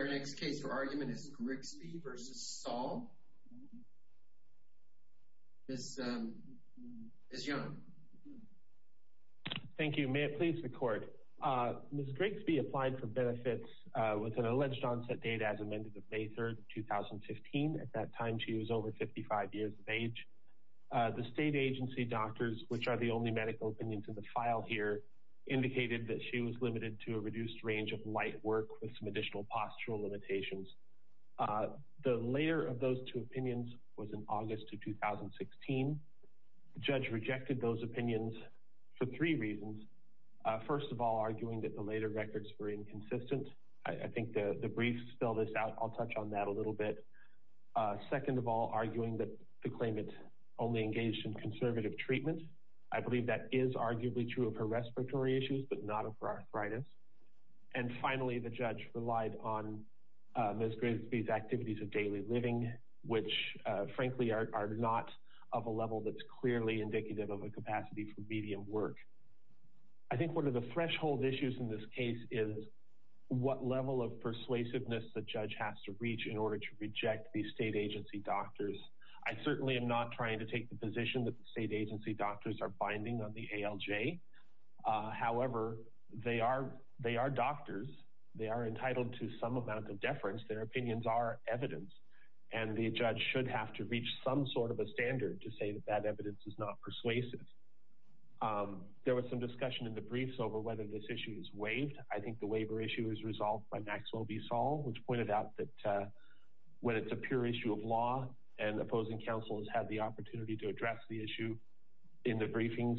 Our next case for argument is Grigsby v. Saul, Ms. Young. Thank you. May it please the Court. Ms. Grigsby applied for benefits with an alleged onset date as amended of May 3, 2015. At that time, she was over 55 years of age. The state agency doctors, which are the only medical opinions in the file here, indicated that she was limited to a reduced range of light work with some additional postural limitations. The later of those two opinions was in August of 2016. The judge rejected those opinions for three reasons. First of all, arguing that the later records were inconsistent. I think the brief spelled this out. I'll touch on that a little bit. Second of all, arguing that the claimant only engaged in conservative treatment. I believe that is arguably true of her respiratory issues, but not of her arthritis. And finally, the judge relied on Ms. Grigsby's activities of daily living, which frankly are not of a level that's clearly indicative of a capacity for medium work. I think one of the threshold issues in this case is what level of persuasiveness the judge has to reach in order to reject these state agency doctors. I certainly am not trying to take the position that the state agency doctors are binding on the ALJ. However, they are doctors. They are entitled to some amount of deference. Their opinions are evidence, and the judge should have to reach some sort of a standard to say that that evidence is not persuasive. There was some discussion in the briefs over whether this issue is waived. I think the waiver issue is resolved by Maxwell v. Saul, which pointed out that when it's a pure issue of law and opposing counsel has had the opportunity to address the issue in the briefings,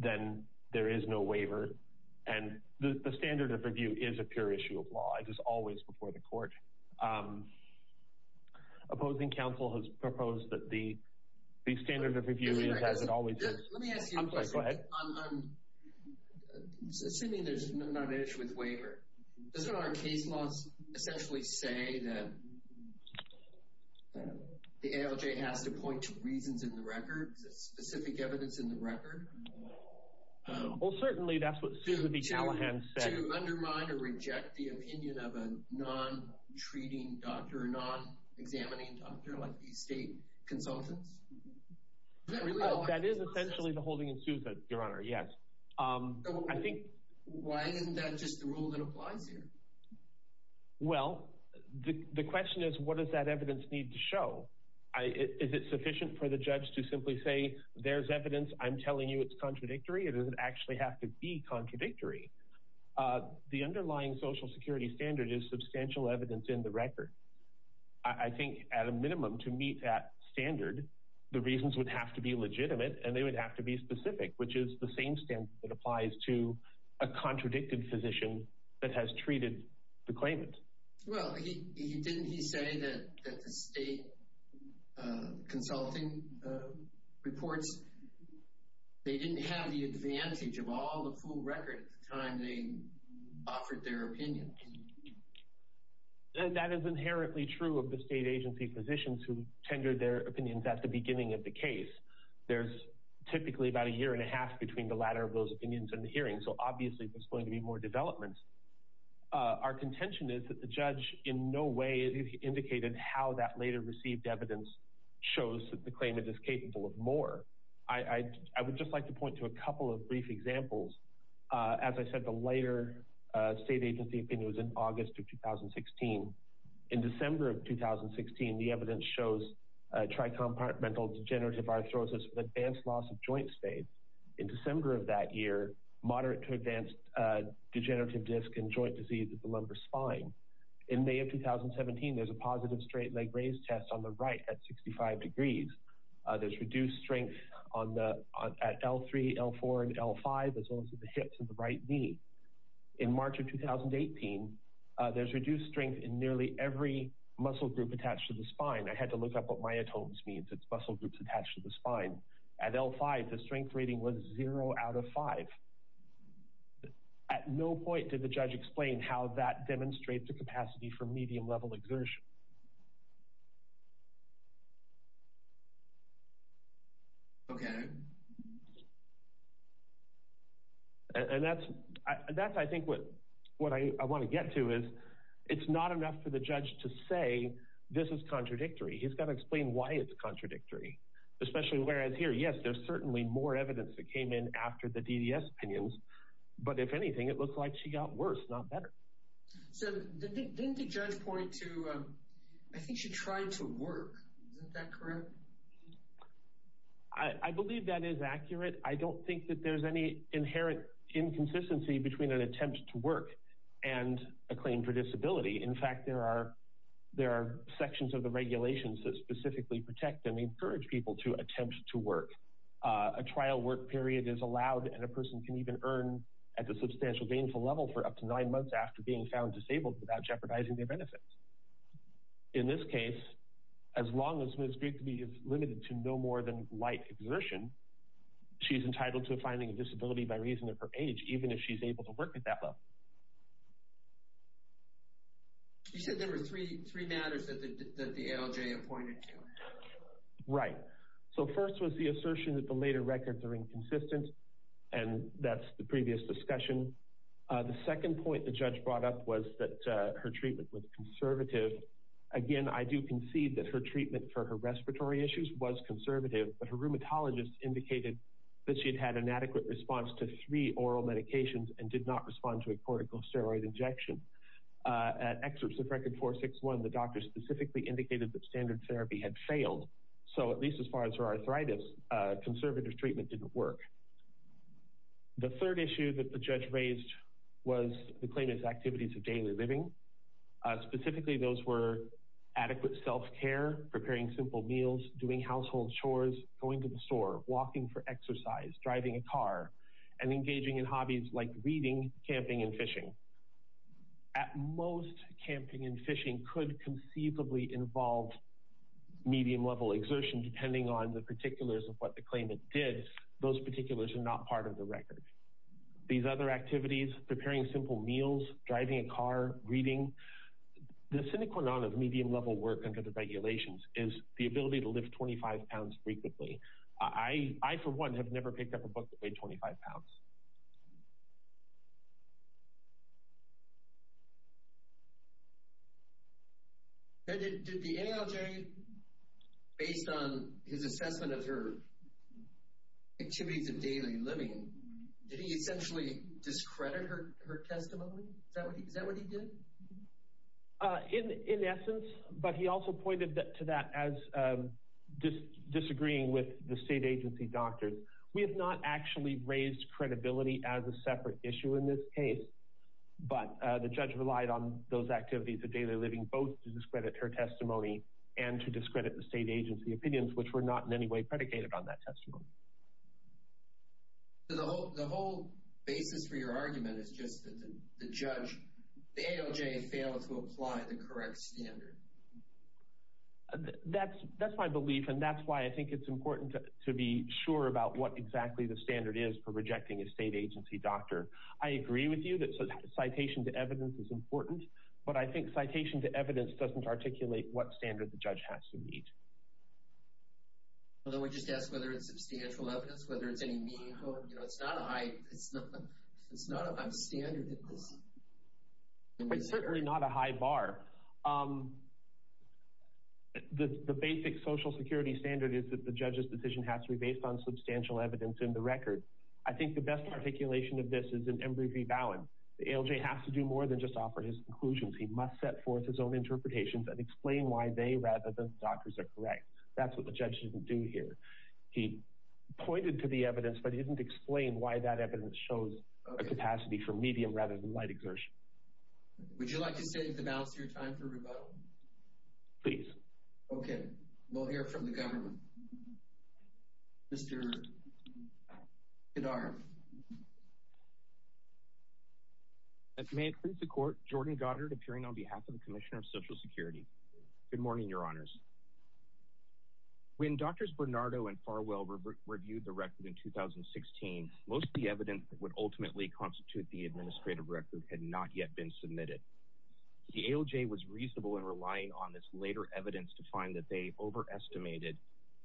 then there is no waiver. And the standard of review is a pure issue of law. It is always before the court. Opposing counsel has proposed that the standard of review is as it always is. Let me ask you a question. Assuming there's not an issue with waiver, does one of our case laws essentially say that the ALJ has to point to reasons in the record? Is there specific evidence in the record? Well, certainly that's what Susan B. Callahan said. To undermine or reject the opinion of a non-treating doctor, a non-examining doctor like these state consultants? That is essentially the holding in Susan, Your Honor, yes. Why isn't that just the rule that applies here? Well, the question is, what does that evidence need to show? Is it sufficient for the judge to simply say, there's evidence, I'm telling you it's contradictory? It doesn't actually have to be contradictory. The underlying Social Security standard is substantial evidence in the record. I think, at a minimum, to meet that standard, the reasons would have to be legitimate and they would have to be specific, which is the same standard that applies to a contradicted physician that has treated the claimant. Well, didn't he say that the state consulting reports, they didn't have the advantage of all the full record at the time they offered their opinion? That is inherently true of the state agency physicians who tendered their opinions at the beginning of the case. There's typically about a year and a half between the latter of those opinions and the hearing, so obviously there's going to be more development. Our contention is that the judge in no way indicated how that later received evidence shows that the claimant is capable of more. I would just like to point to a couple of brief examples. As I said, the later state agency opinion was in August of 2016. In December of 2016, the evidence shows tricompartmental degenerative arthrosis with advanced loss of joint spades. In December of that year, moderate to advanced degenerative disc and joint disease of the lumbar spine. In May of 2017, there's a positive straight leg raise test on the right at 65 degrees. There's reduced strength at L3, L4, and L5, as well as at the hips and the right knee. In March of 2018, there's reduced strength in nearly every muscle group attached to the spine. I had to look up what myotomes means, it's muscle groups attached to the spine. At L5, the strength rating was zero out of five. At no point did the judge explain how that demonstrates the capacity for medium-level exertion. Okay. And that's, I think, what I want to get to is it's not enough for the judge to say this is contradictory. He's got to explain why it's contradictory. Especially whereas here, yes, there's certainly more evidence that came in after the DDS opinions. But if anything, it looks like she got worse, not better. So didn't the judge point to, I think she tried to work. Isn't that correct? I believe that is accurate. I don't think that there's any inherent inconsistency between an attempt to work and a claim for disability. In fact, there are sections of the regulations that specifically protect and encourage people to attempt to work. A trial work period is allowed, and a person can even earn at the substantial gainful level for up to nine months after being found disabled without jeopardizing their benefits. In this case, as long as Ms. Grigby is limited to no more than light exertion, she's entitled to a finding of disability by reason of her age, even if she's able to work at that level. You said there were three matters that the ALJ appointed to. Right. So first was the assertion that the later records are inconsistent, and that's the previous discussion. The second point the judge brought up was that her treatment was conservative. Again, I do concede that her treatment for her respiratory issues was conservative, but her rheumatologist indicated that she had had an adequate response to three oral medications and did not respond to a corticosteroid injection. At excerpts of record 461, the doctor specifically indicated that standard therapy had failed. So at least as far as her arthritis, conservative treatment didn't work. The third issue that the judge raised was the claimant's activities of daily living. Specifically, those were adequate self-care, preparing simple meals, doing household chores, going to the store, walking for exercise, driving a car, and engaging in hobbies like reading, camping, and fishing. At most, camping and fishing could conceivably involve medium-level exertion, and depending on the particulars of what the claimant did, those particulars are not part of the record. These other activities, preparing simple meals, driving a car, reading, the sine qua non of medium-level work under the regulations is the ability to lift 25 pounds frequently. I, for one, have never picked up a book that weighed 25 pounds. Did the NLJ, based on his assessment of her activities of daily living, did he essentially discredit her testimony? Is that what he did? In essence, but he also pointed to that as disagreeing with the state agency doctors, we have not actually raised credibility as a separate issue in this case, but the judge relied on those activities of daily living both to discredit her testimony and to discredit the state agency opinions, which were not in any way predicated on that testimony. The whole basis for your argument is just that the judge, the ALJ, failed to apply the correct standard. That's my belief, and that's why I think it's important to be sure about what exactly the standard is for rejecting a state agency doctor. I agree with you that citation to evidence is important, but I think citation to evidence doesn't articulate what standard the judge has to meet. Although we just asked whether it's substantial evidence, whether it's any meaningful, you know, it's not a high, it's not a standard. It's certainly not a high bar. The basic social security standard is that the judge's decision has to be based on substantial evidence in the record. I think the best articulation of this is in Embree v. Bowen. The ALJ has to do more than just offer his conclusions. He must set forth his own interpretations and explain why they rather than doctors are correct. That's what the judge didn't do here. He pointed to the evidence, but he didn't explain why that evidence shows a capacity for medium rather than light exertion. Would you like to save the balance of your time for rebuttal? Please. Okay. We'll hear from the government. Mr. Gidara. May it please the court, Jordan Goddard appearing on behalf of the Commissioner of Social Security. Good morning, your honors. When Drs. Bernardo and Farwell reviewed the record in 2016, most of the evidence that would ultimately constitute the administrative record had not yet been submitted. The ALJ was reasonable in relying on this later evidence to find that they overestimated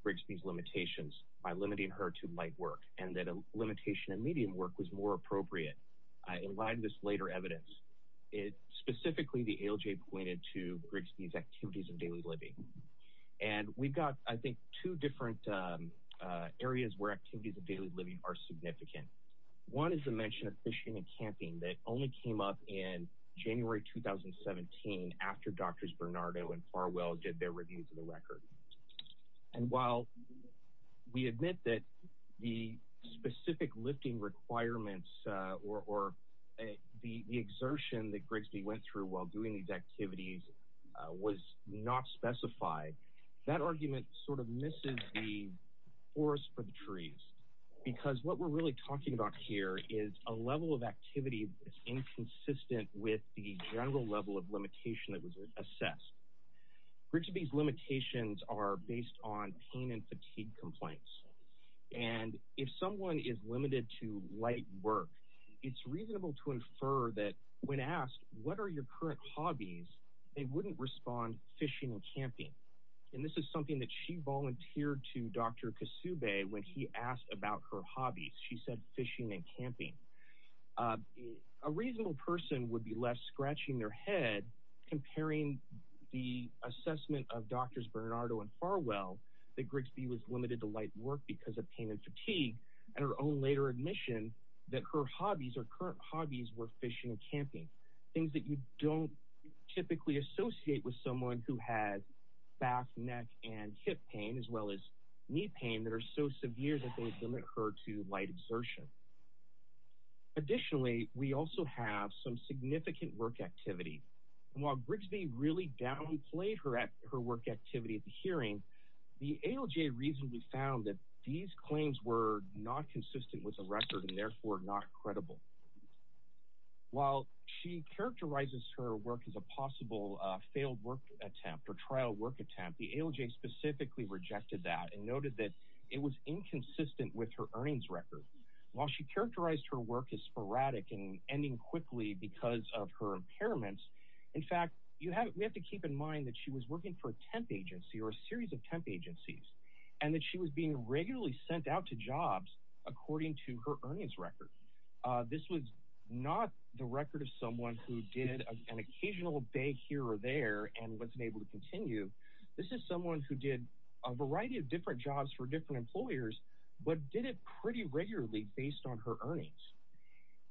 Grigsby's limitations by limiting her to light work and that a limitation in medium work was more appropriate. In light of this later evidence, specifically the ALJ pointed to Grigsby's activities of daily living. And we got, I think, two different areas where activities of daily living are significant. One is the mention of fishing and camping that only came up in January 2017 after Drs. Bernardo and Farwell did their reviews of the record. And while we admit that the specific lifting requirements or the exertion that Grigsby went through while doing these activities was not specified, that argument sort of misses the forest for the trees. Because what we're really talking about here is a level of activity that's inconsistent with the general level of limitation that was assessed. Grigsby's limitations are based on pain and fatigue complaints. And if someone is limited to light work, it's reasonable to infer that when asked, what are your current hobbies, they wouldn't respond fishing and camping. And this is something that she volunteered to Dr. Kasube when he asked about her hobbies. She said fishing and camping. A reasonable person would be left scratching their head comparing the assessment of Drs. Bernardo and Farwell that Grigsby was limited to light work because of pain and fatigue and her own later admission that her hobbies or current hobbies were fishing and camping. Things that you don't typically associate with someone who has back, neck, and hip pain as well as knee pain that are so severe that they limit her to light exertion. Additionally, we also have some significant work activity. While Grigsby really downplayed her work activity at the hearing, the ALJ reasonably found that these claims were not consistent with the record and therefore not credible. While she characterizes her work as a possible failed work attempt or trial work attempt, the ALJ specifically rejected that and noted that it was inconsistent with her earnings record. While she characterized her work as sporadic and ending quickly because of her impairments, in fact, we have to keep in mind that she was working for a temp agency or a series of temp agencies and that she was being regularly sent out to jobs according to her earnings record. This was not the record of someone who did an occasional day here or there and wasn't able to continue. This is someone who did a variety of different jobs for different employers but did it pretty regularly based on her earnings.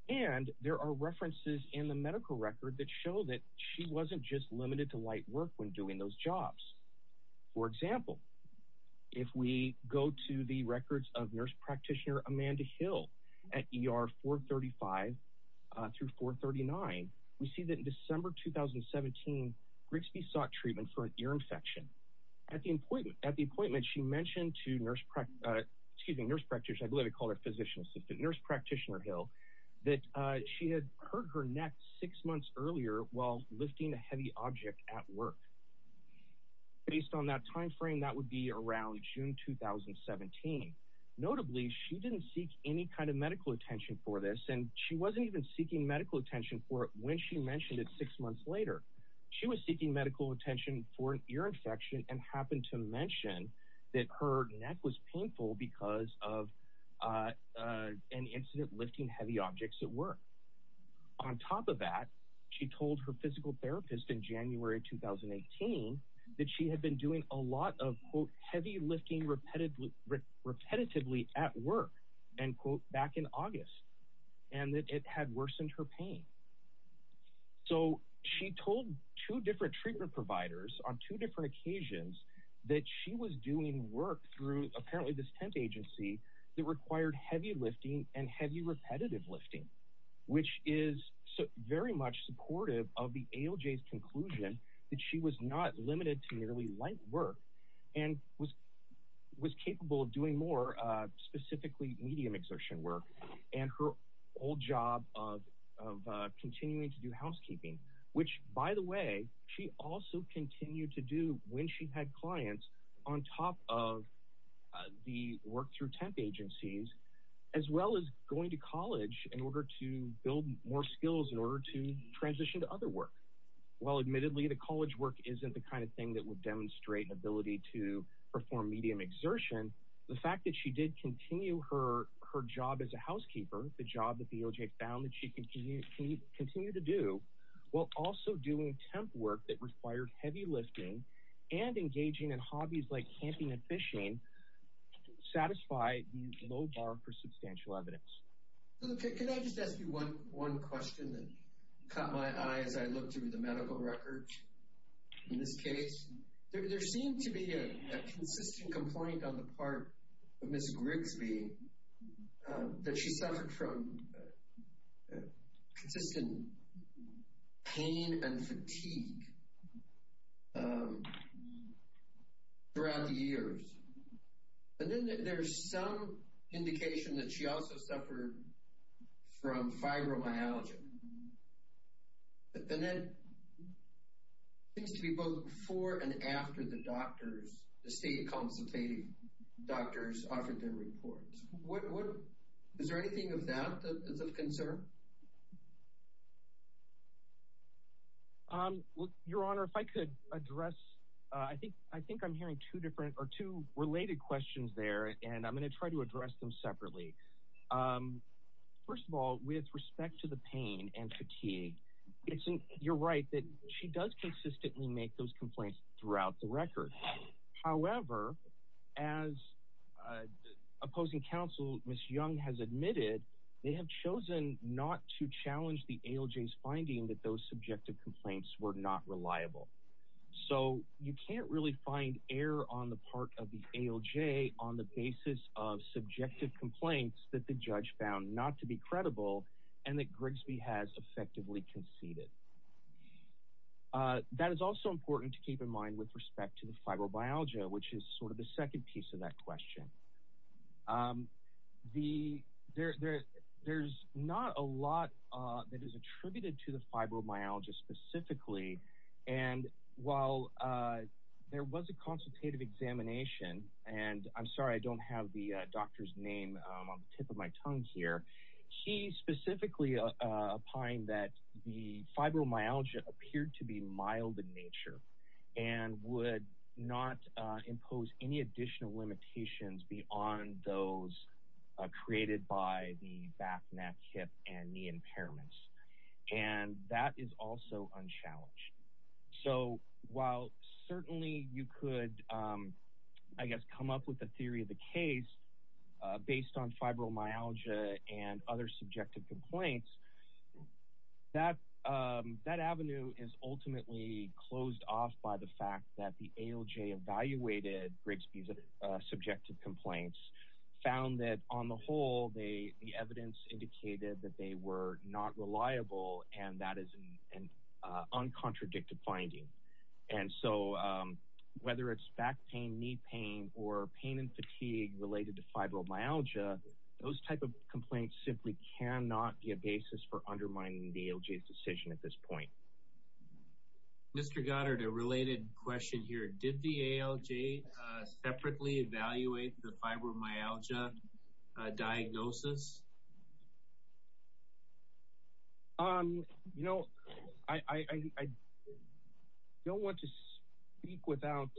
And there are references in the medical record that show that she wasn't just limited to light work when doing those jobs. For example, if we go to the records of nurse practitioner Amanda Hill at ER 435 through 439, we see that in December 2017, Grigsby sought treatment for an ear infection. At the appointment, she mentioned to nurse practitioner, I believe it called her physician assistant, nurse practitioner Hill, that she had hurt her neck six months earlier while lifting a heavy object at work. Based on that timeframe, that would be around June 2017. Notably, she didn't seek any kind of medical attention for this and she wasn't even seeking medical attention for it when she mentioned it six months later. She was seeking medical attention for an ear infection and happened to mention that her neck was painful because of an incident lifting heavy objects at work. On top of that, she told her physical therapist in January 2018 that she had been doing a lot of heavy lifting repetitively at work back in August and that it had worsened her pain. So she told two different treatment providers on two different occasions that she was doing work through apparently this tent agency that required heavy lifting and heavy repetitive lifting, which is very much supportive of the ALJ's conclusion that she was not limited to nearly light work and was capable of doing more specifically medium exertion work and her old job of continuing to do housekeeping, which by the way, she also continued to do when she had clients on top of the work through tent agencies as well as going to college in order to build more skills in order to transition to other work. While admittedly the college work isn't the kind of thing that would demonstrate an ability to perform medium exertion, the fact that she did continue her job as a housekeeper, the job that the ALJ found that she can continue to do, while also doing temp work that required heavy lifting and engaging in hobbies like camping and fishing, satisfy the low bar for substantial evidence. Can I just ask you one question that caught my eye as I looked through the medical records in this case? There seemed to be a consistent complaint on the part of Ms. Grigsby that she suffered from consistent pain and fatigue throughout the years. And then there's some indication that she also suffered from fibromyalgia. And that seems to be both before and after the doctors, the state consultative doctors offered their reports. Your Honor, if I could address, I think I'm hearing two related questions there and I'm going to try to address them separately. First of all, with respect to the pain and fatigue, you're right that she does consistently make those complaints throughout the record. However, as opposing counsel Ms. Young has admitted, they have chosen not to challenge the ALJ's finding that those subjective complaints were not reliable. So you can't really find error on the part of the ALJ on the basis of subjective complaints that the judge found not to be credible and that Grigsby has effectively conceded. That is also important to keep in mind with respect to the fibromyalgia, which is sort of the second piece of that question. There's not a lot that is attributed to the fibromyalgia specifically. And while there was a consultative examination, and I'm sorry I don't have the doctor's name on the tip of my tongue here, he specifically opined that the fibromyalgia appeared to be mild in nature and would not impose any additional limitations beyond those created by the back, neck, hip, and knee impairments. And that is also unchallenged. So while certainly you could, I guess, come up with a theory of the case based on fibromyalgia and other subjective complaints, that avenue is ultimately closed off by the fact that the ALJ evaluated Grigsby's subjective complaints, found that on the whole the evidence indicated that they were not reliable and that is an uncontradicted finding. And so whether it's back pain, knee pain, or pain and fatigue related to fibromyalgia, those type of complaints simply cannot be a basis for undermining the ALJ's decision at this point. Mr. Goddard, a related question here. Did the ALJ separately evaluate the fibromyalgia diagnosis? You know, I don't want to speak without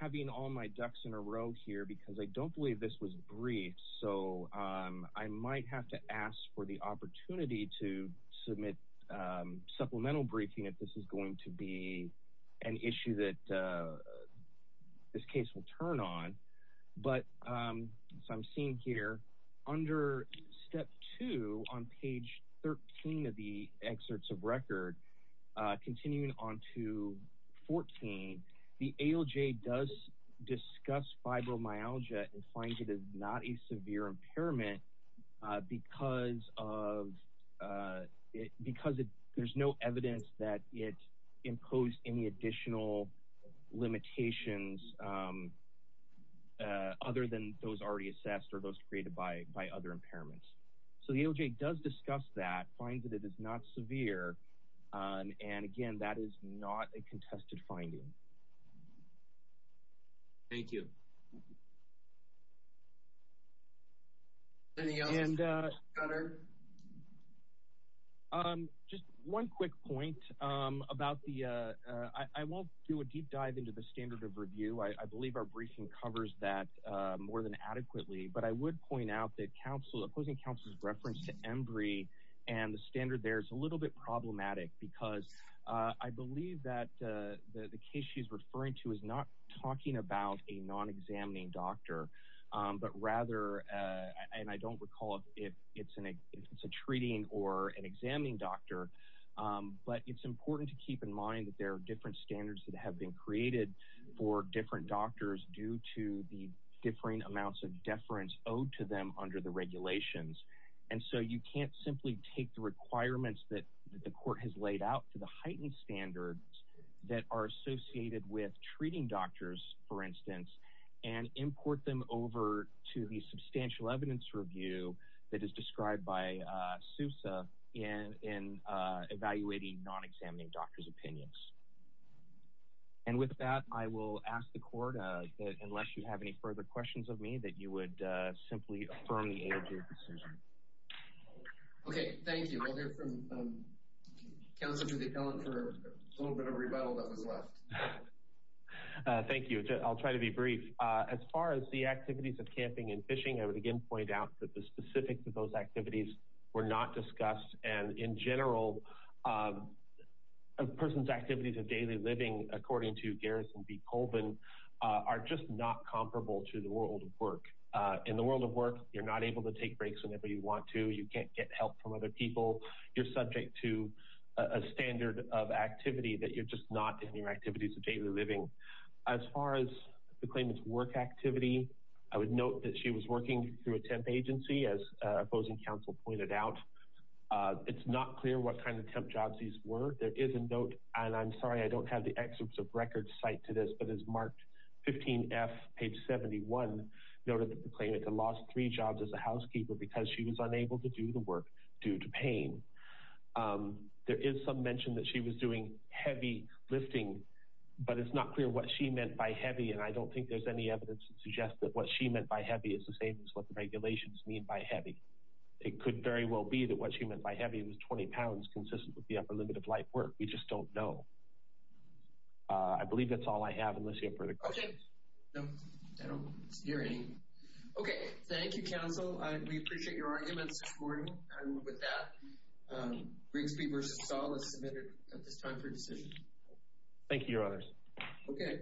having all my ducks in a row here because I don't believe this was briefed. So I might have to ask for the opportunity to submit supplemental briefing if this is going to be an issue that this case will turn on. But as I'm seeing here, under step two on page 13 of the excerpts of record, continuing on to 14, the ALJ does discuss fibromyalgia and finds it is not a severe impairment because there's no evidence that it imposed any additional limitations other than those already assessed or those created by other impairments. So the ALJ does discuss that, finds that it is not severe, and again, that is not a contested finding. Thank you. Any other questions, Mr. Goddard? Just one quick point about the— I won't do a deep dive into the standard of review. I believe our briefing covers that more than adequately. But I would point out that opposing counsel's reference to embry and the standard there is a little bit problematic because I believe that the case she's referring to is not talking about a non-examining doctor, but rather— and I don't recall if it's a treating or an examining doctor, but it's important to keep in mind that there are different standards that have been created for different doctors due to the differing amounts of deference owed to them under the regulations. And so you can't simply take the requirements that the court has laid out to the heightened standards that are associated with treating doctors, for instance, and import them over to the substantial evidence review that is described by SUSE in evaluating non-examining doctors' opinions. And with that, I will ask the court that, unless you have any further questions of me, that you would simply affirm the aid of your decision. Okay, thank you. We'll hear from counsel Judy Kellen for a little bit of rebuttal that was left. Thank you. I'll try to be brief. As far as the activities of camping and fishing, I would again point out that the specifics of those activities were not discussed. And in general, a person's activities of daily living, according to Garrison B. Colvin, are just not comparable to the world of work. In the world of work, you're not able to take breaks whenever you want to. You can't get help from other people. You're subject to a standard of activity that you're just not in your activities of daily living. As far as the claimant's work activity, I would note that she was working through a temp agency, as opposing counsel pointed out. It's not clear what kind of temp jobs these were. There is a note, and I'm sorry, I don't have the excerpts of records cited to this, but it's marked 15F, page 71, noted that the claimant had lost three jobs as a housekeeper because she was unable to do the work due to pain. There is some mention that she was doing heavy lifting, but it's not clear what she meant by heavy, and I don't think there's any evidence to suggest that what she meant by heavy is the same as what the regulations mean by heavy. It could very well be that what she meant by heavy was 20 pounds, consistent with the upper limit of life work. We just don't know. I believe that's all I have in this hearing. Okay. No, I don't hear any. Okay. Thank you, counsel. We appreciate your arguments this morning. I move with that. Grigsby v. Stahl is submitted at this time for decision. Thank you, Your Honors.